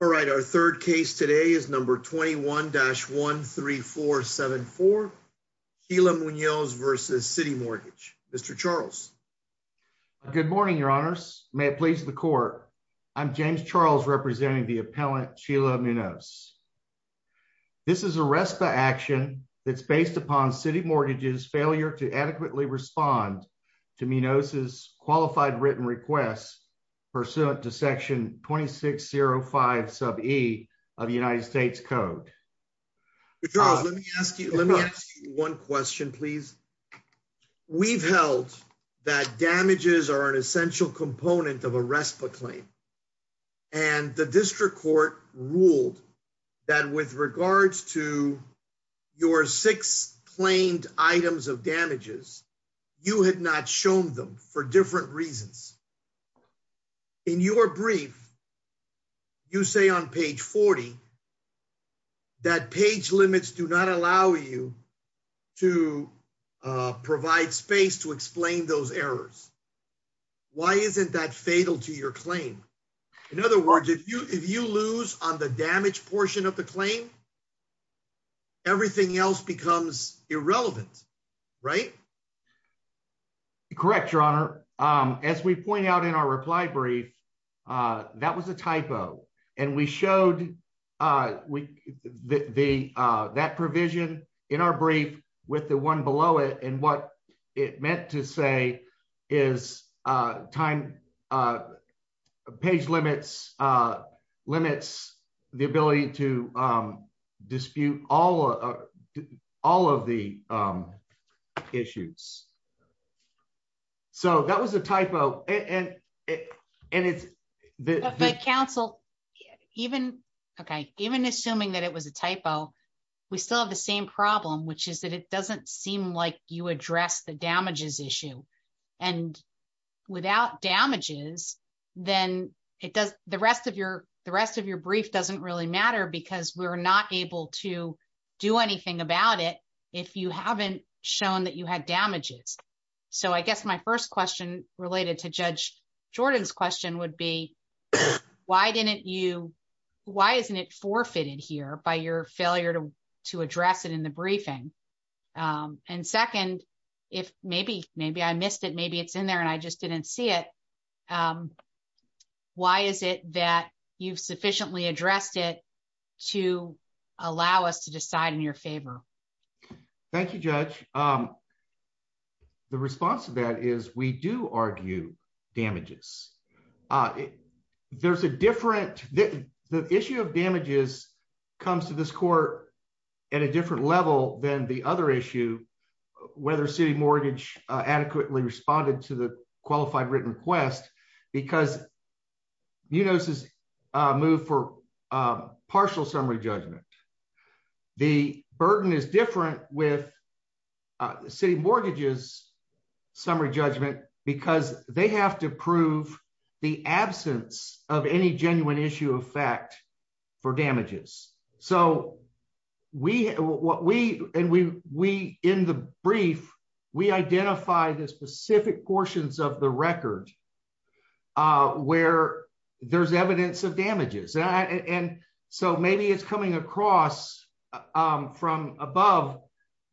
All right, our third case today is number 21-13474, Sheila Munoz v. CitiMortgage. Mr. Charles. Good morning, your honors. May it please the court, I'm James Charles representing the appellant Sheila Munoz. This is a RESPA action that's based upon CitiMortgage's failure to adequately respond to Munoz's qualified written requests pursuant to section 2605 sub e of the United States Code. Charles, let me ask you one question, please. We've held that damages are an essential component of a RESPA claim and the district court ruled that with regards to your six claimed items of damages you had not shown them for different reasons. In your brief, you say on page 40 that page limits do not allow you to provide space to explain those errors. Why isn't that fatal to your claim? In other words, if you lose on the damage portion of the claim, everything else becomes irrelevant, right? Correct, your honor. As we point out in our reply brief, that was a typo and we showed that provision in our brief with the one below it and what it meant to say is time, page limits, the ability to dispute all of the issues. So that was a typo. But counsel, even assuming that it was a typo, we still have the same problem which is that it doesn't seem like you address the damages issue and without damages, then the rest of your brief doesn't really matter because we're not able to do anything about it if you haven't shown that you had damages. So I guess my first question related to Judge Jordan's question would be why isn't it forfeited here by your failure to address it in the briefing? And second, if maybe I missed it, maybe it's in there and I just didn't see it, why is it that you've sufficiently addressed it to allow us to decide in your favor? Thank you, Judge. The response to that is we do argue damages. There's a different, the issue of damages comes to this court at a different level than the other issue, whether city mortgage adequately responded to the qualified written request because you notice this move for partial summary judgment. The burden is different with city mortgages summary judgment because they have to prove the absence of any genuine issue of fact for damages. So we, in the brief, we identify the specific portions of the record where there's evidence of damages and so maybe it's coming across from above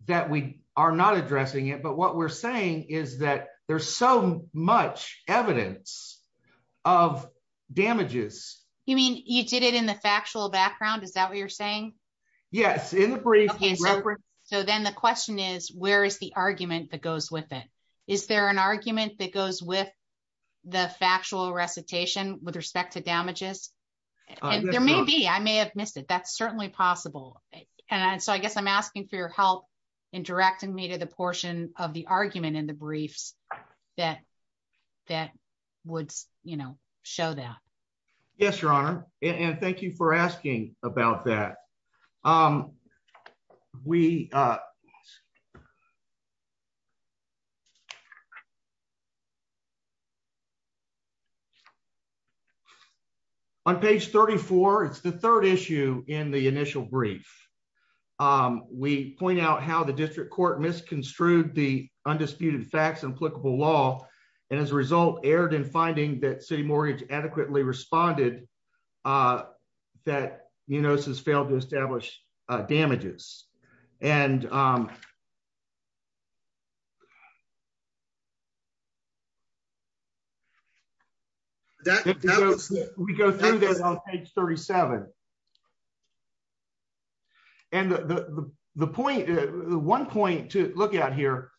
that we are not addressing it, but what we're saying is that there's so much evidence of damages. You mean you did it in the factual background, is that what you're saying? Yes, in the brief. Okay, so then the question is where is the argument that goes with it? Is there an argument that goes with the factual recitation with respect to damages? There may be. I may have missed it. That's certainly possible and so I guess I'm asking for your help in directing me to the portion of the argument in the briefs that would show that. Yes, Your Honor, and thank you for asking about that. Page 34, it's the third issue in the initial brief. We point out how the district court misconstrued the undisputed facts and applicable law and as a result erred in finding that city mortgage adequately responded, that you notice has failed to establish damages. And we go through this on page 37. And the one point to look at here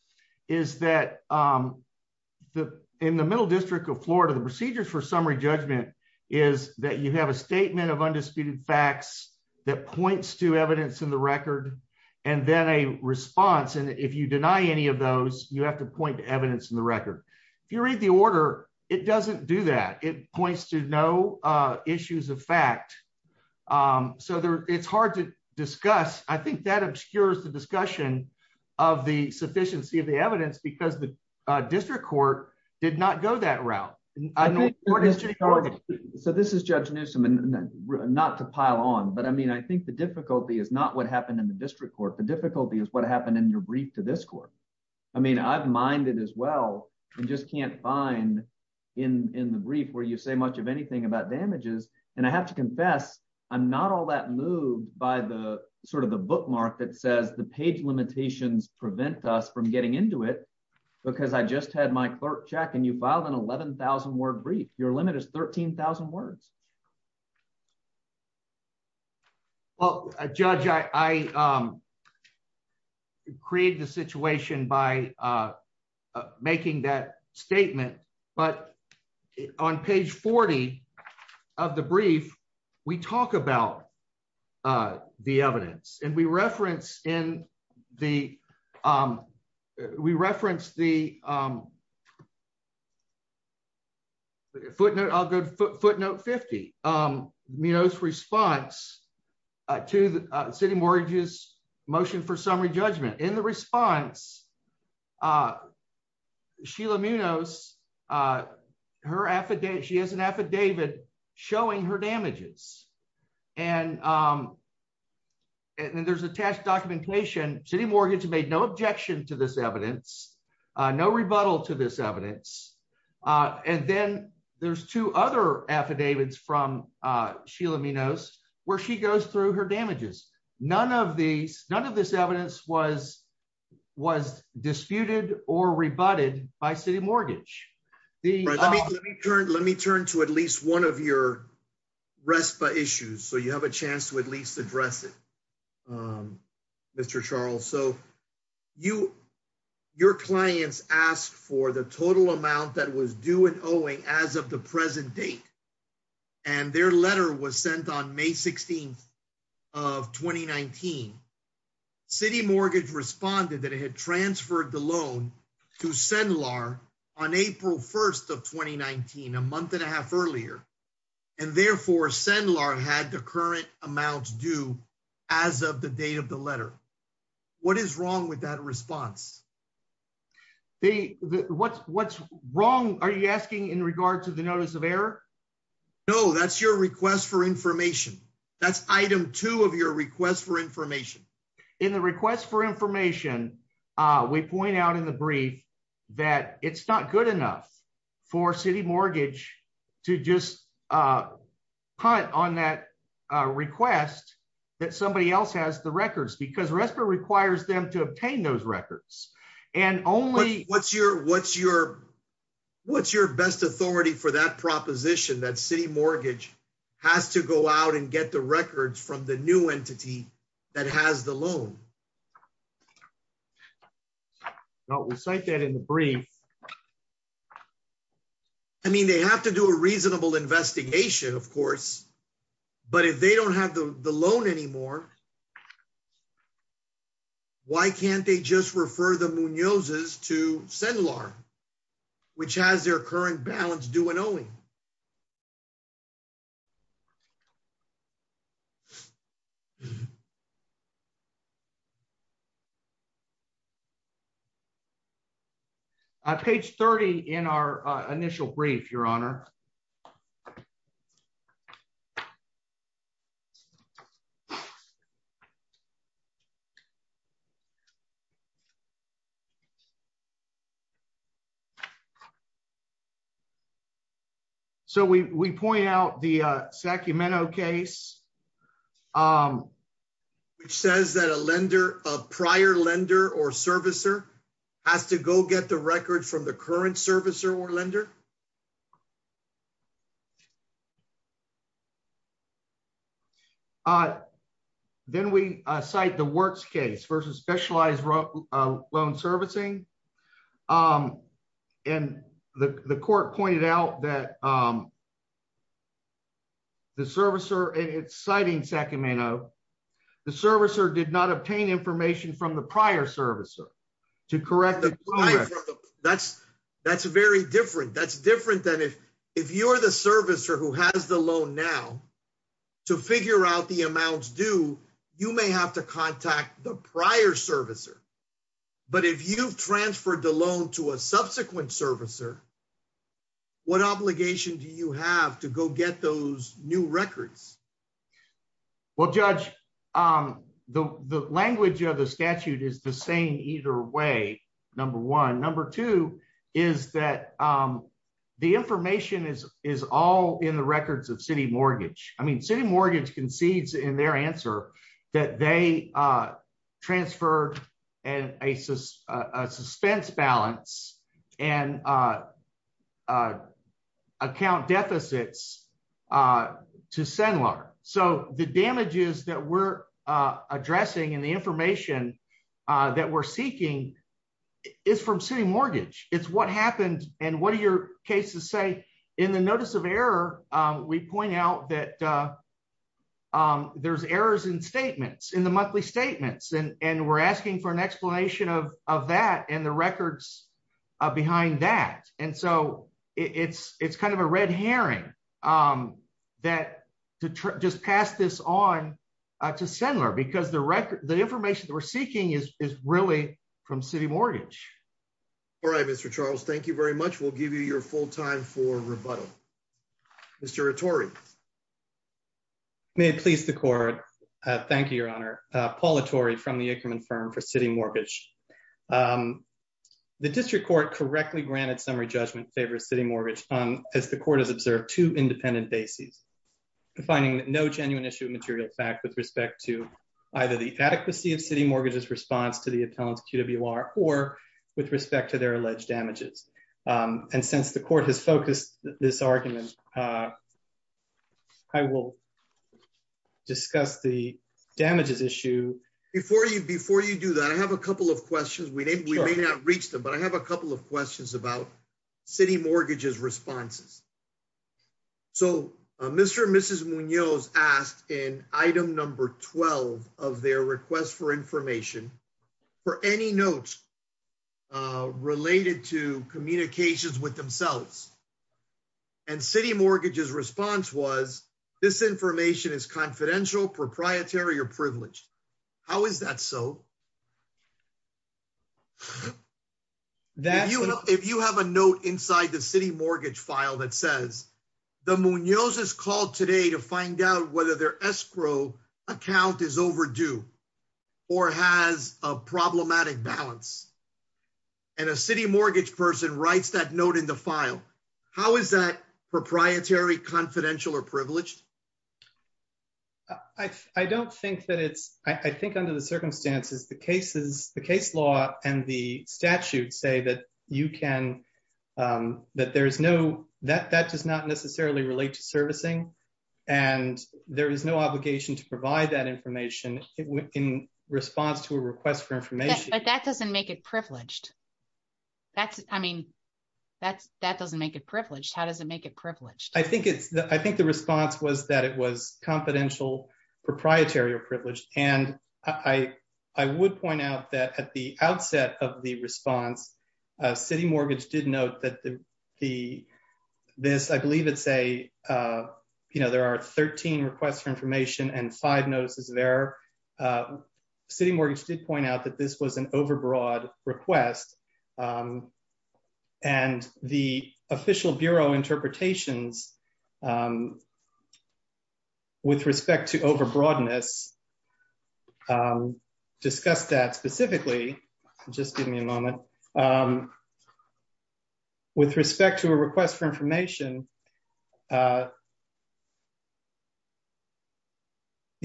is that in the middle district of Florida, the procedures for summary judgment is that you have a statement of undisputed facts that points to evidence in the record and then a response. And if you deny any of those, you have to point to evidence in the record. If you read the order, it doesn't do that. It points to no issues of fact. So it's hard to discuss. I think that obscures the discussion of the sufficiency of the evidence because the district court did not go that route. I know. So this is Judge Newsom and not to pile on, but I mean, I think the difficulty is not what happened in the district court. The difficulty is what happened in your brief to this court. I mean, I've minded as well and just can't find in the brief where you say much of anything about damages. And I have to confess, I'm not all that moved by the sort of the bookmark that says the page limitations prevent us from getting into it because I just had my clerk check and you filed an 11,000 word brief. Your limit is 13,000 words. Well, Judge, I created the situation by making that statement, but on page 40 of the brief, we talk about the evidence and we reference the footnote 50, Munoz's response to the city mortgage's motion for summary judgment. In the response, Sheila Munoz, she has an affidavit showing her damages. And there's attached documentation, city mortgage made no objection to this evidence, no rebuttal to this evidence. And then there's two other affidavits from Sheila Munoz where she goes through her damages. None of these, none of this evidence was disputed or rebutted by city mortgage. Let me turn to at RESPA issues. So you have a chance to at least address it, Mr. Charles. So your clients asked for the total amount that was due and owing as of the present date. And their letter was sent on May 16th of 2019. City mortgage responded that it had transferred the loan to CENLAR on April 1st of 2019, a month and a half earlier. And therefore CENLAR had the current amounts due as of the date of the letter. What is wrong with that response? What's wrong, are you asking in regard to the notice of error? No, that's your request for information. That's item two of your request for information. In the request for information, we point out in the brief that it's not good enough for city mortgage to just punt on that request that somebody else has the records because RESPA requires them to obtain those records. And only- What's your best authority for that proposition that city mortgage has to go out and get the records from the new entity that has the loan? No, we cite that in the brief. I mean, they have to do a reasonable investigation, of course. But if they don't have the loan anymore, why can't they just refer the Munozes to CENLAR, which has their current balance due and owing? Page 30 in our initial brief, Your Honor. So, we point out the Sacramento case, which says that a lender, a prior lender or servicer, has to go get the records from the current servicer or lender? Then we cite the works case versus specialized loan servicing. And the court pointed out that the servicer, and it's citing Sacramento, the servicer did not obtain information from the to correct- That's very different. That's different than if you're the servicer who has the loan now to figure out the amounts due, you may have to contact the prior servicer. But if you've transferred the loan to a subsequent servicer, what obligation do you have to go get those new records? Well, Judge, the language of the statute is the same either way, number one. Number two, is that the information is all in the records of City Mortgage. I mean, City Mortgage concedes in their answer that they transferred a suspense balance and account deficits to SEMLR. So, the damages that we're addressing and the information that we're seeking is from City Mortgage. It's what happened and what do your cases say? In the notice of error, we point out that there's errors in statements, in the monthly statements, and we're asking for an explanation of that and the records behind that. And so, it's kind of a red herring that just pass this on to SEMLR because the information that we're seeking is really from City Mortgage. All right, Mr. Charles, thank you very much. We'll give you your full time for rebuttal. Mr. Attori. May it please the Court. Thank you, Your Honor. Paul Attori from the Aikerman firm for City Mortgage. The District Court correctly granted summary judgment in favor of City Mortgage as the Court has observed two independent bases, defining no genuine issue of material fact with respect to either the adequacy of City Mortgage's response to the appellant's QWR or with respect to their alleged damages. And since the Court has focused this argument, I will discuss the damages issue. Before you do that, I have a couple of questions. We may not reach them, but I have a couple of questions about City Mortgage's responses. So, Mr. and Mrs. Munoz asked in item number 12 of their request for information for any notes related to communications with themselves. And City Mortgage's response was, this information is confidential, proprietary, or privileged. How is that so? If you have a note inside the City Mortgage file that says, the Munoz's called today to find out whether their escrow account is overdue or has a problematic balance, and a City Mortgage person writes that note in the file, how is that proprietary, confidential, or privileged? I don't think that it's, I think under the circumstances, the cases, the case law and the statute say that you can, that there's no, that does not necessarily relate to servicing. And there is no obligation to provide that information in response to a request for information. But that doesn't make it privileged. That's, I mean, that doesn't make it privileged. How does it make it privileged? I think the response was that it was confidential, proprietary, or privileged. And I would point out that at the outset of the response, City Mortgage did note that the, this, I believe it's a, you know, there are 13 requests for information and five notices there. City Mortgage did point out that this was an overbroad request. And the Official Bureau interpretations with respect to overbroadness discuss that specifically, just give me a moment, with respect to a request for information, the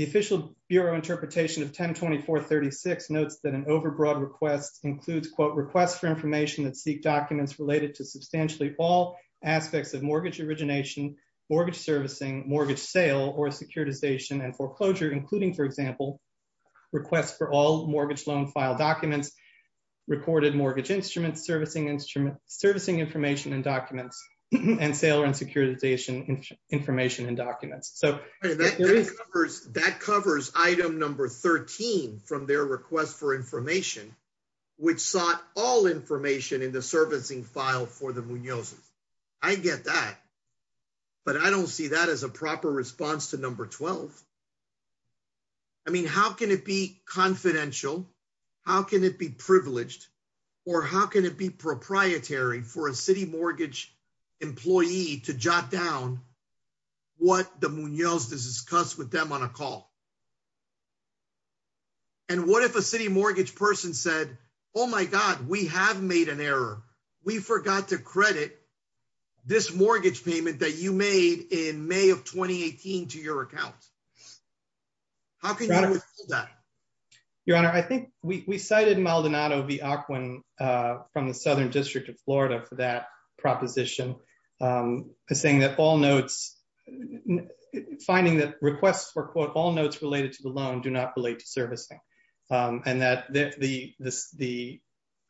Official Bureau interpretation of 1024-36 notes that an overbroad request includes, requests for information that seek documents related to substantially all aspects of mortgage origination, mortgage servicing, mortgage sale or securitization and foreclosure, including, for example, requests for all mortgage loan file documents, recorded mortgage instruments, servicing instruments, servicing information and documents, and sale and securitization information and documents. So that covers item number 13 from their request for information, which sought all information in the servicing file for the Munozos. I get that, but I don't see that as a proper response to number 12. I mean, how can it be confidential? How can it be privileged? Or how can it be proprietary for a City Mortgage employee to jot down what the Munozos discussed with them on a call? And what if a City Mortgage person said, oh, my God, we have made an error. We forgot to credit this mortgage payment that you made in May of 2018 to your account. How can you withhold that? Your Honor, I think we cited Maldonado v. Aquin from the Southern District of Florida for that do not relate to servicing. And that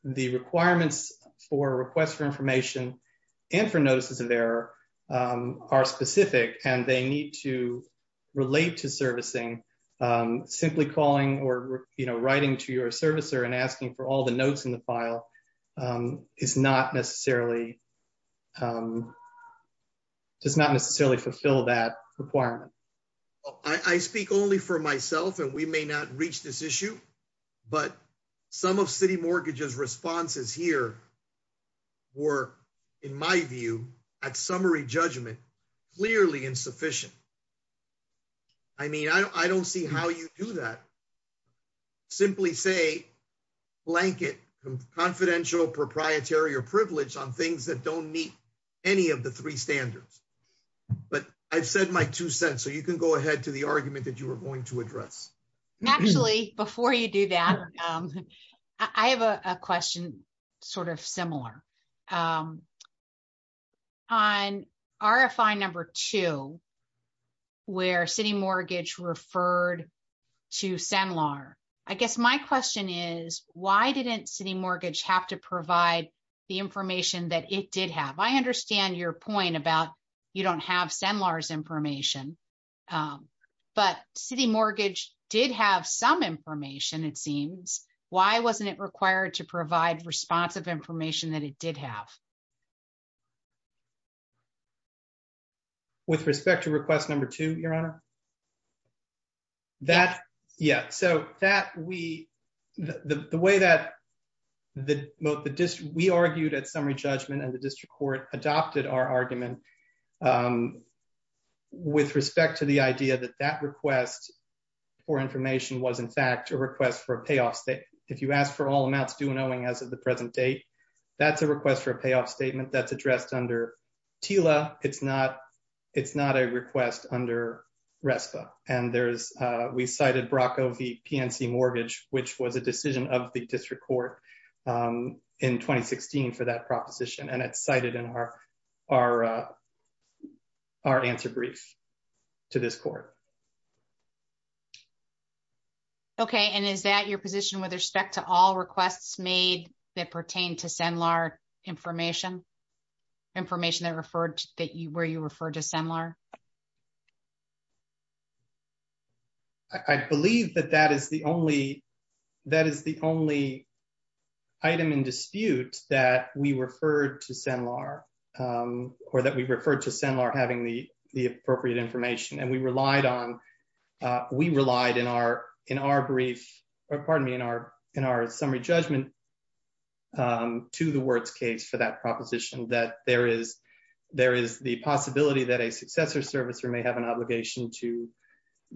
the requirements for requests for information and for notices of error are specific, and they need to relate to servicing. Simply calling or writing to your servicer and asking for all the notes in the file does not necessarily fulfill that requirement. I speak only for myself, and we may not reach this issue. But some of City Mortgage's responses here were, in my view, at summary judgment, clearly insufficient. I mean, I don't see how you do that. Simply say, blanket confidential, proprietary, privileged on things that don't meet any of the three standards. But I've said my two cents, so you can go ahead to the argument that you were going to address. Actually, before you do that, I have a question sort of similar. On RFI number two, where City Mortgage referred to SEMLR, I guess my question is, why didn't City Mortgage have to the information that it did have? I understand your point about you don't have SEMLR's information, but City Mortgage did have some information, it seems. Why wasn't it required to provide responsive information that it did have? With respect to request number two, Your Honor? Yeah, so the way that we argued at summary judgment and the district court adopted our argument with respect to the idea that that request for information was, in fact, a request for a payoff. If you ask for all amounts due and owing as of the present date, that's a request for a payoff RESPA. And we cited Brocco v. PNC Mortgage, which was a decision of the district court in 2016 for that proposition, and it's cited in our answer brief to this court. Okay, and is that your position with respect to all requests made that pertain to SEMLR information, information that referred to where you referred to SEMLR? I believe that that is the only item in dispute that we referred to SEMLR, or that we referred to SEMLR having the appropriate information, and we relied on, we relied in our brief, pardon me, in our summary judgment to the Wirtz case for that proposition, that there is the possibility that a successor servicer may have an obligation to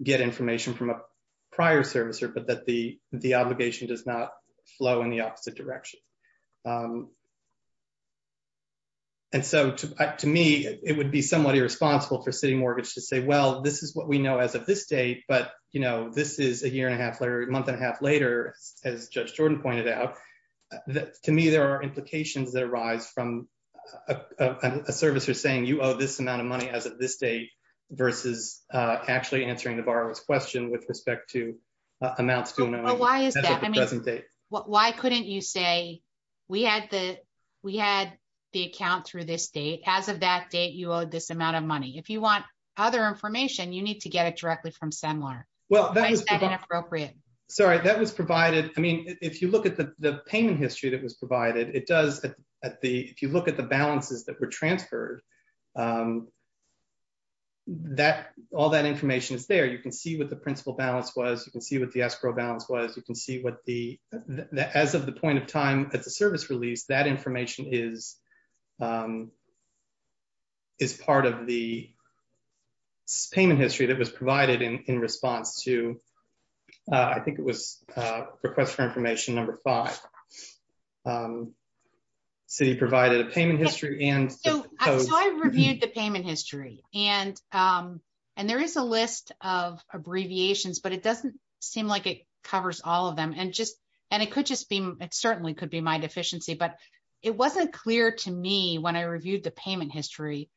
get information from a prior servicer, but that the obligation does not flow in the opposite direction. And so, to me, it would be somewhat irresponsible for City Mortgage to say, well, this is what we know as of this date, but, you know, this is a year and a half later, month and a half later, as Judge Jordan pointed out, that to me there are implications that arise from a servicer saying, you owe this amount of money as of this date, versus actually answering the borrower's question with respect to amounts to an amount of money as of the present date. Why couldn't you say, we had the, we had the account through this date, as of that date, you owed this amount of money. If you want other information, you need to get it directly from SEMLR. Why is that inappropriate? Sorry, that was provided, I mean, if you look at the payment history that was provided, it does, if you look at the balances that were transferred, all that information is there. You can see what the principal balance was, you can see what the escrow balance was, you can see what the, as of the point of time at the service release, that information is part of the payment history that was provided in response to, I think it was request for information number five. So you provided a payment history and... So I reviewed the payment history, and there is a list of abbreviations, but it doesn't seem like it covers all of them, and just, and it could just be, it certainly could be my deficiency, but it wasn't clear to me when I reviewed the payment history. It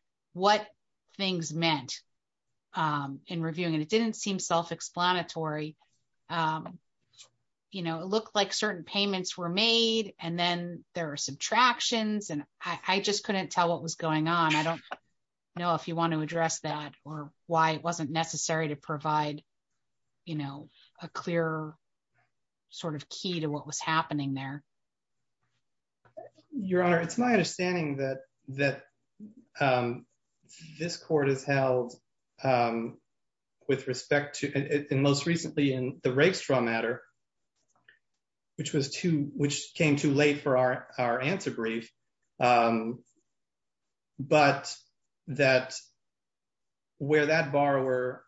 looked like certain payments were made, and then there were subtractions, and I just couldn't tell what was going on. I don't know if you want to address that, or why it wasn't necessary to provide a clear sort of key to what was happening there. Your Honor, it's my rake-straw matter, which was too, which came too late for our answer brief, but that, where that borrower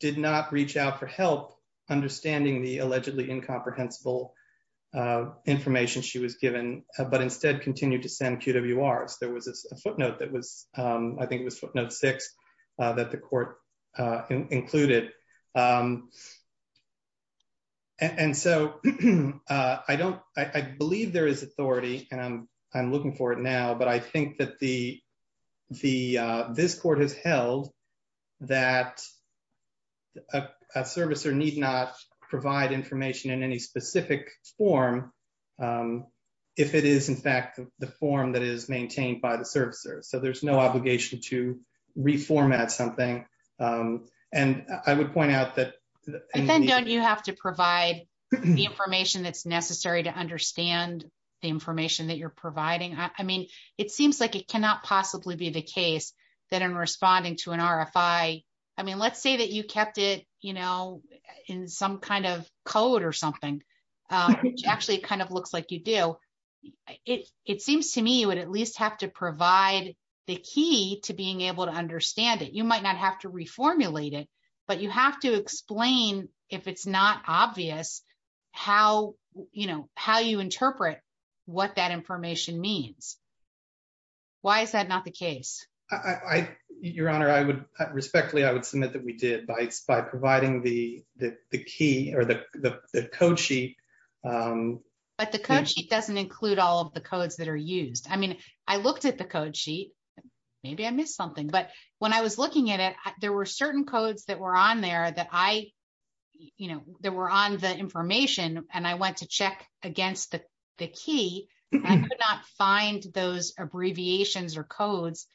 did not reach out for help understanding the allegedly incomprehensible information she was given, but instead continued to send QWRs. There was a footnote that was, I think it was footnote six, that the court included, and so I don't, I believe there is authority, and I'm looking for it now, but I think that the, this court has held that a servicer need not provide information in any specific form, if it is in fact the form that to reformat something, and I would point out that. And then don't you have to provide the information that's necessary to understand the information that you're providing? I mean, it seems like it cannot possibly be the case that in responding to an RFI, I mean, let's say that you kept it, you know, in some kind of code or something, which actually kind of looks like you do, it seems to me you would at least have to provide the key to being able to understand it. You might not have to reformulate it, but you have to explain if it's not obvious how, you know, how you interpret what that information means. Why is that not the case? I, Your Honor, I would, respectfully, I would submit that we did by providing the key or the code sheet. But the code sheet doesn't include all of the codes that are used. I mean, I looked at the code sheet, maybe I missed something, but when I was looking at it, there were certain codes that were on there that I, you know, that were on the information, and I went to check against the key. I could not find those abbreviations or codes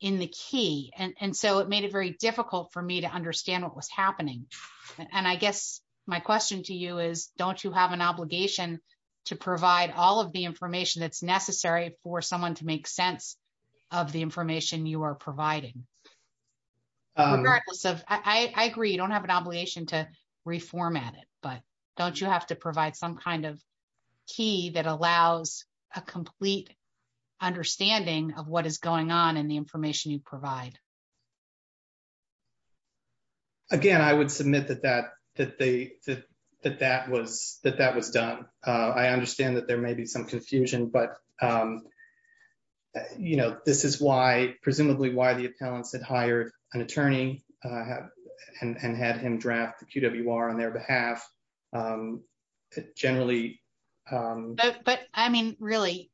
in the key, and so it made it very difficult for me to understand what was happening. And I guess my question to you is, don't you have an obligation to provide all of the information that's necessary for someone to make sense of the information you are providing? Regardless of, I agree, you don't have an obligation to reformat it, but don't you have to provide some kind of key that allows a complete understanding of what is going on and the information you provide? Again, I would submit that that was done. I understand that there may be some confusion, but, you know, this is why, presumably, why the appellants had hired an attorney and had him draft the QWR on their behalf, generally. But, I mean, really,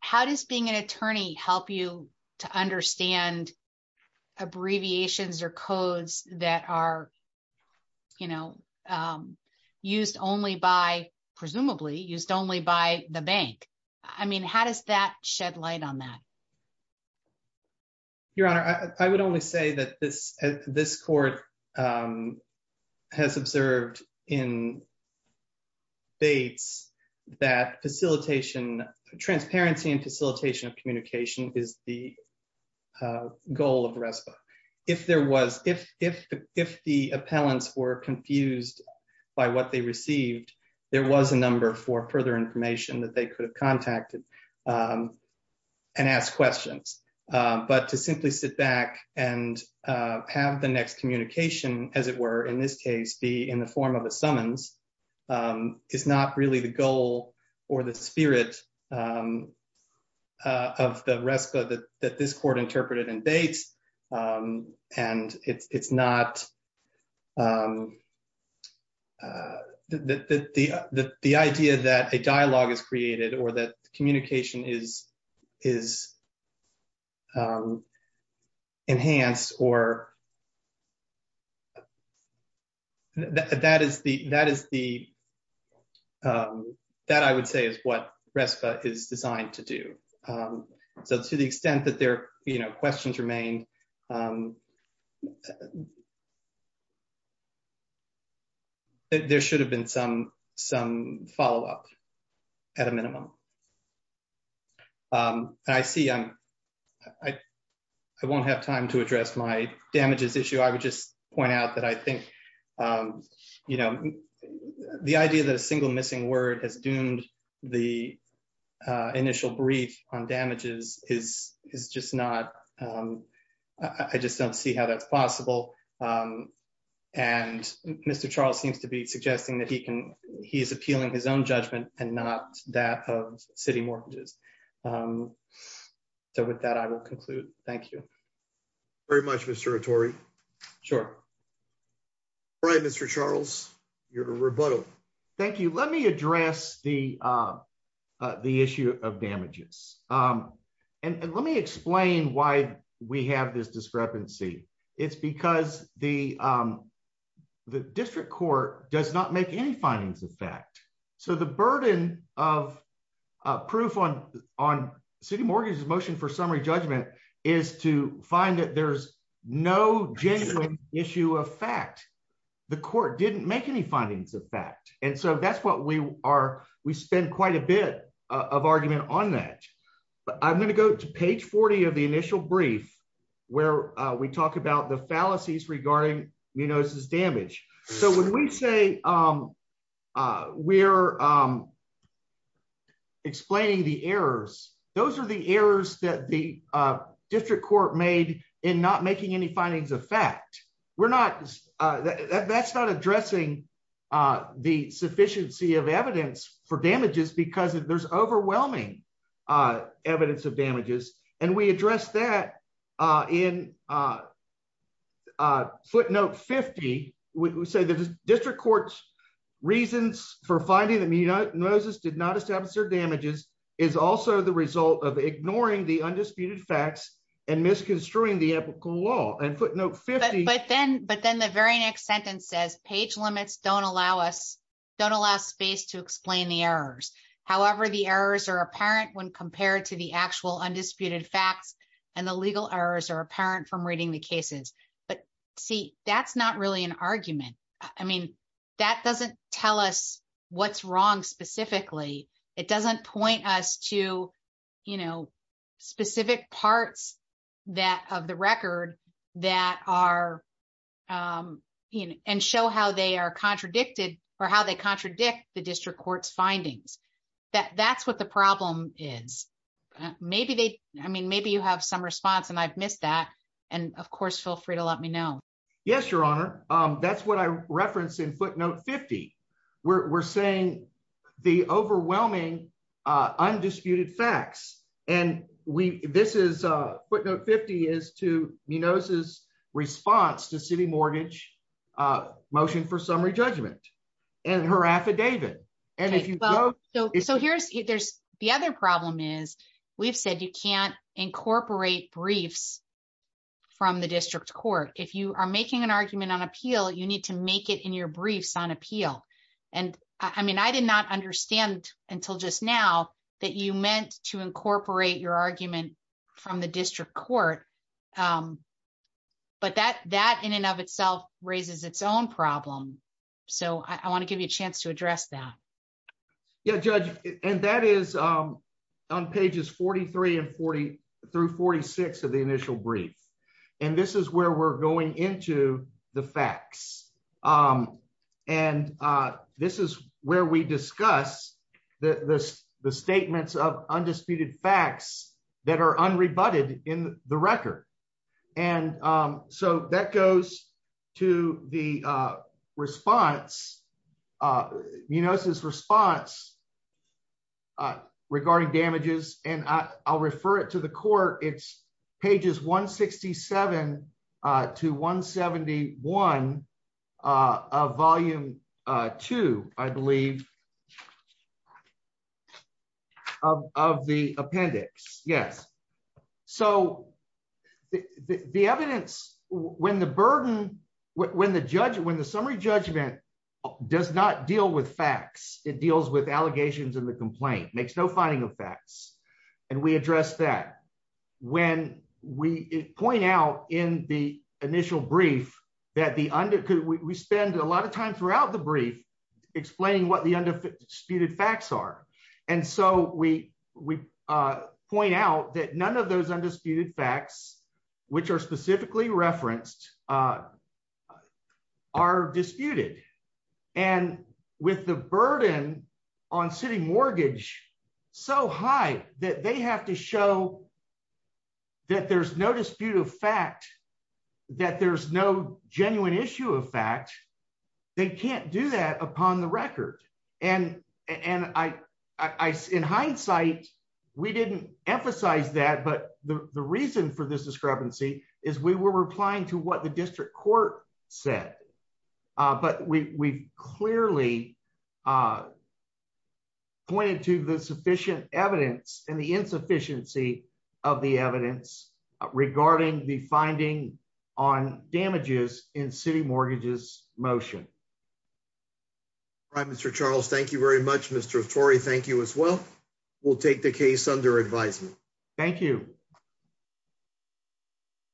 how does being an attorney help you to understand abbreviations or codes that are, you know, used only by, presumably, used only by the bank? I mean, how does that shed light on that? Your Honor, I would only say that this court has observed in Bates that facilitation, transparency and facilitation of communication is the goal of RESPA. If there was, if the appellants were confused by what they received, there was a number for further information that they could have contacted and asked questions. But to simply sit back and have the next communication, as it were in this case, be in the form of a summons is not really the goal or the spirit of the RESPA that this court interpreted in Bates. And it's not, the idea that a dialogue is created or that enhanced or, that is the, that is the, that I would say is what RESPA is designed to do. So to the extent that there, you know, questions remain, there should have been some, some follow up at a minimum. I see I'm, I won't have time to address my damages issue. I would just point out that I think, you know, the idea that a single missing word has doomed the initial brief on damages is, is just not, I just don't see how that's possible. And Mr. Charles seems to be suggesting that he can, he's appealing his own judgment and not that of city mortgages. So with that, I will conclude. Thank you. Very much, Mr. Attore. Sure. All right, Mr. Charles, you're to rebuttal. Thank you. Let me address the, the issue of damages. And let me explain why we have this discrepancy. It's because the, the district court does not make any findings of fact. So the burden of proof on, on city mortgages motion for summary judgment is to find that there's no genuine issue of fact, the court didn't make any findings of fact. And so that's what we are. We spend quite a bit of argument on that, but I'm going to go to page 40 of the initial brief where we talk about the fallacies regarding, you know, this is damage. So when we say we're explaining the errors, those are the errors that the district court made in not making any findings of fact. We're not, that's not addressing the sufficiency of evidence for damages because there's overwhelming evidence of damages. And we address that in footnote 50. We say that the district court's reasons for finding that Moses did not establish their damages is also the result of ignoring the undisputed facts and misconstruing the ethical law and footnote 50. But then, but then the very next sentence says page limits don't allow us, don't allow space to explain the errors. However, the errors are apparent when compared to actual undisputed facts and the legal errors are apparent from reading the cases. But see, that's not really an argument. I mean, that doesn't tell us what's wrong specifically. It doesn't point us to, you know, specific parts that of the record that are, you know, and show how they are contradicted or how they contradict the district court's findings. That that's what the problem is. Maybe they, I mean, maybe you have some response and I've missed that. And of course, feel free to let me know. Yes, your honor. That's what I referenced in footnote 50. We're saying the overwhelming undisputed facts, and we, this is a footnote 50 is to me knows his response to city mortgage motion for summary judgment and her affidavit. And if you go, so here's, there's the other problem is we've said you can't incorporate briefs from the district court. If you are making an argument on appeal, you need to make it in your briefs on appeal. And I mean, I did not understand until just now that you meant to incorporate your argument from the district court. But that, that in and of itself raises its own problem. So I want to give you a chance to address that. Yeah, judge. And that is on pages 43 and 40 through 46 of the initial brief. And this is where we're going into the facts. And this is where we discuss the, the, the statements of undisputed facts that are unrebutted in the record. And so that goes to the response. You notice his response regarding damages, and I'll refer it to the court. It's pages 167 to 171 of volume two, I believe of the appendix. Yes. So the, the, the evidence when the burden, when the judge, when the summary judgment does not deal with facts, it deals with allegations and the complaint makes no finding of facts. And we address that when we point out in the initial brief that the under, we spend a lot of time throughout the brief explaining what the undisputed facts are. And so we, we point out that none of those undisputed facts, which are specifically referenced are disputed. And with the burden on city mortgage, so high that they have to show that there's no dispute of fact that there's no genuine issue of fact, they can't do that upon the record. And, and I, I, in hindsight, we didn't emphasize that, but the reason for this discrepancy is we were replying to what the district court said. But we we've clearly a pointed to the sufficient evidence and the insufficiency of the evidence regarding the finding on damages in city mortgages motion. Right. Mr. Charles, thank you very much, Mr. Tory. Thank you as well. We'll take the case under advisement. Thank you.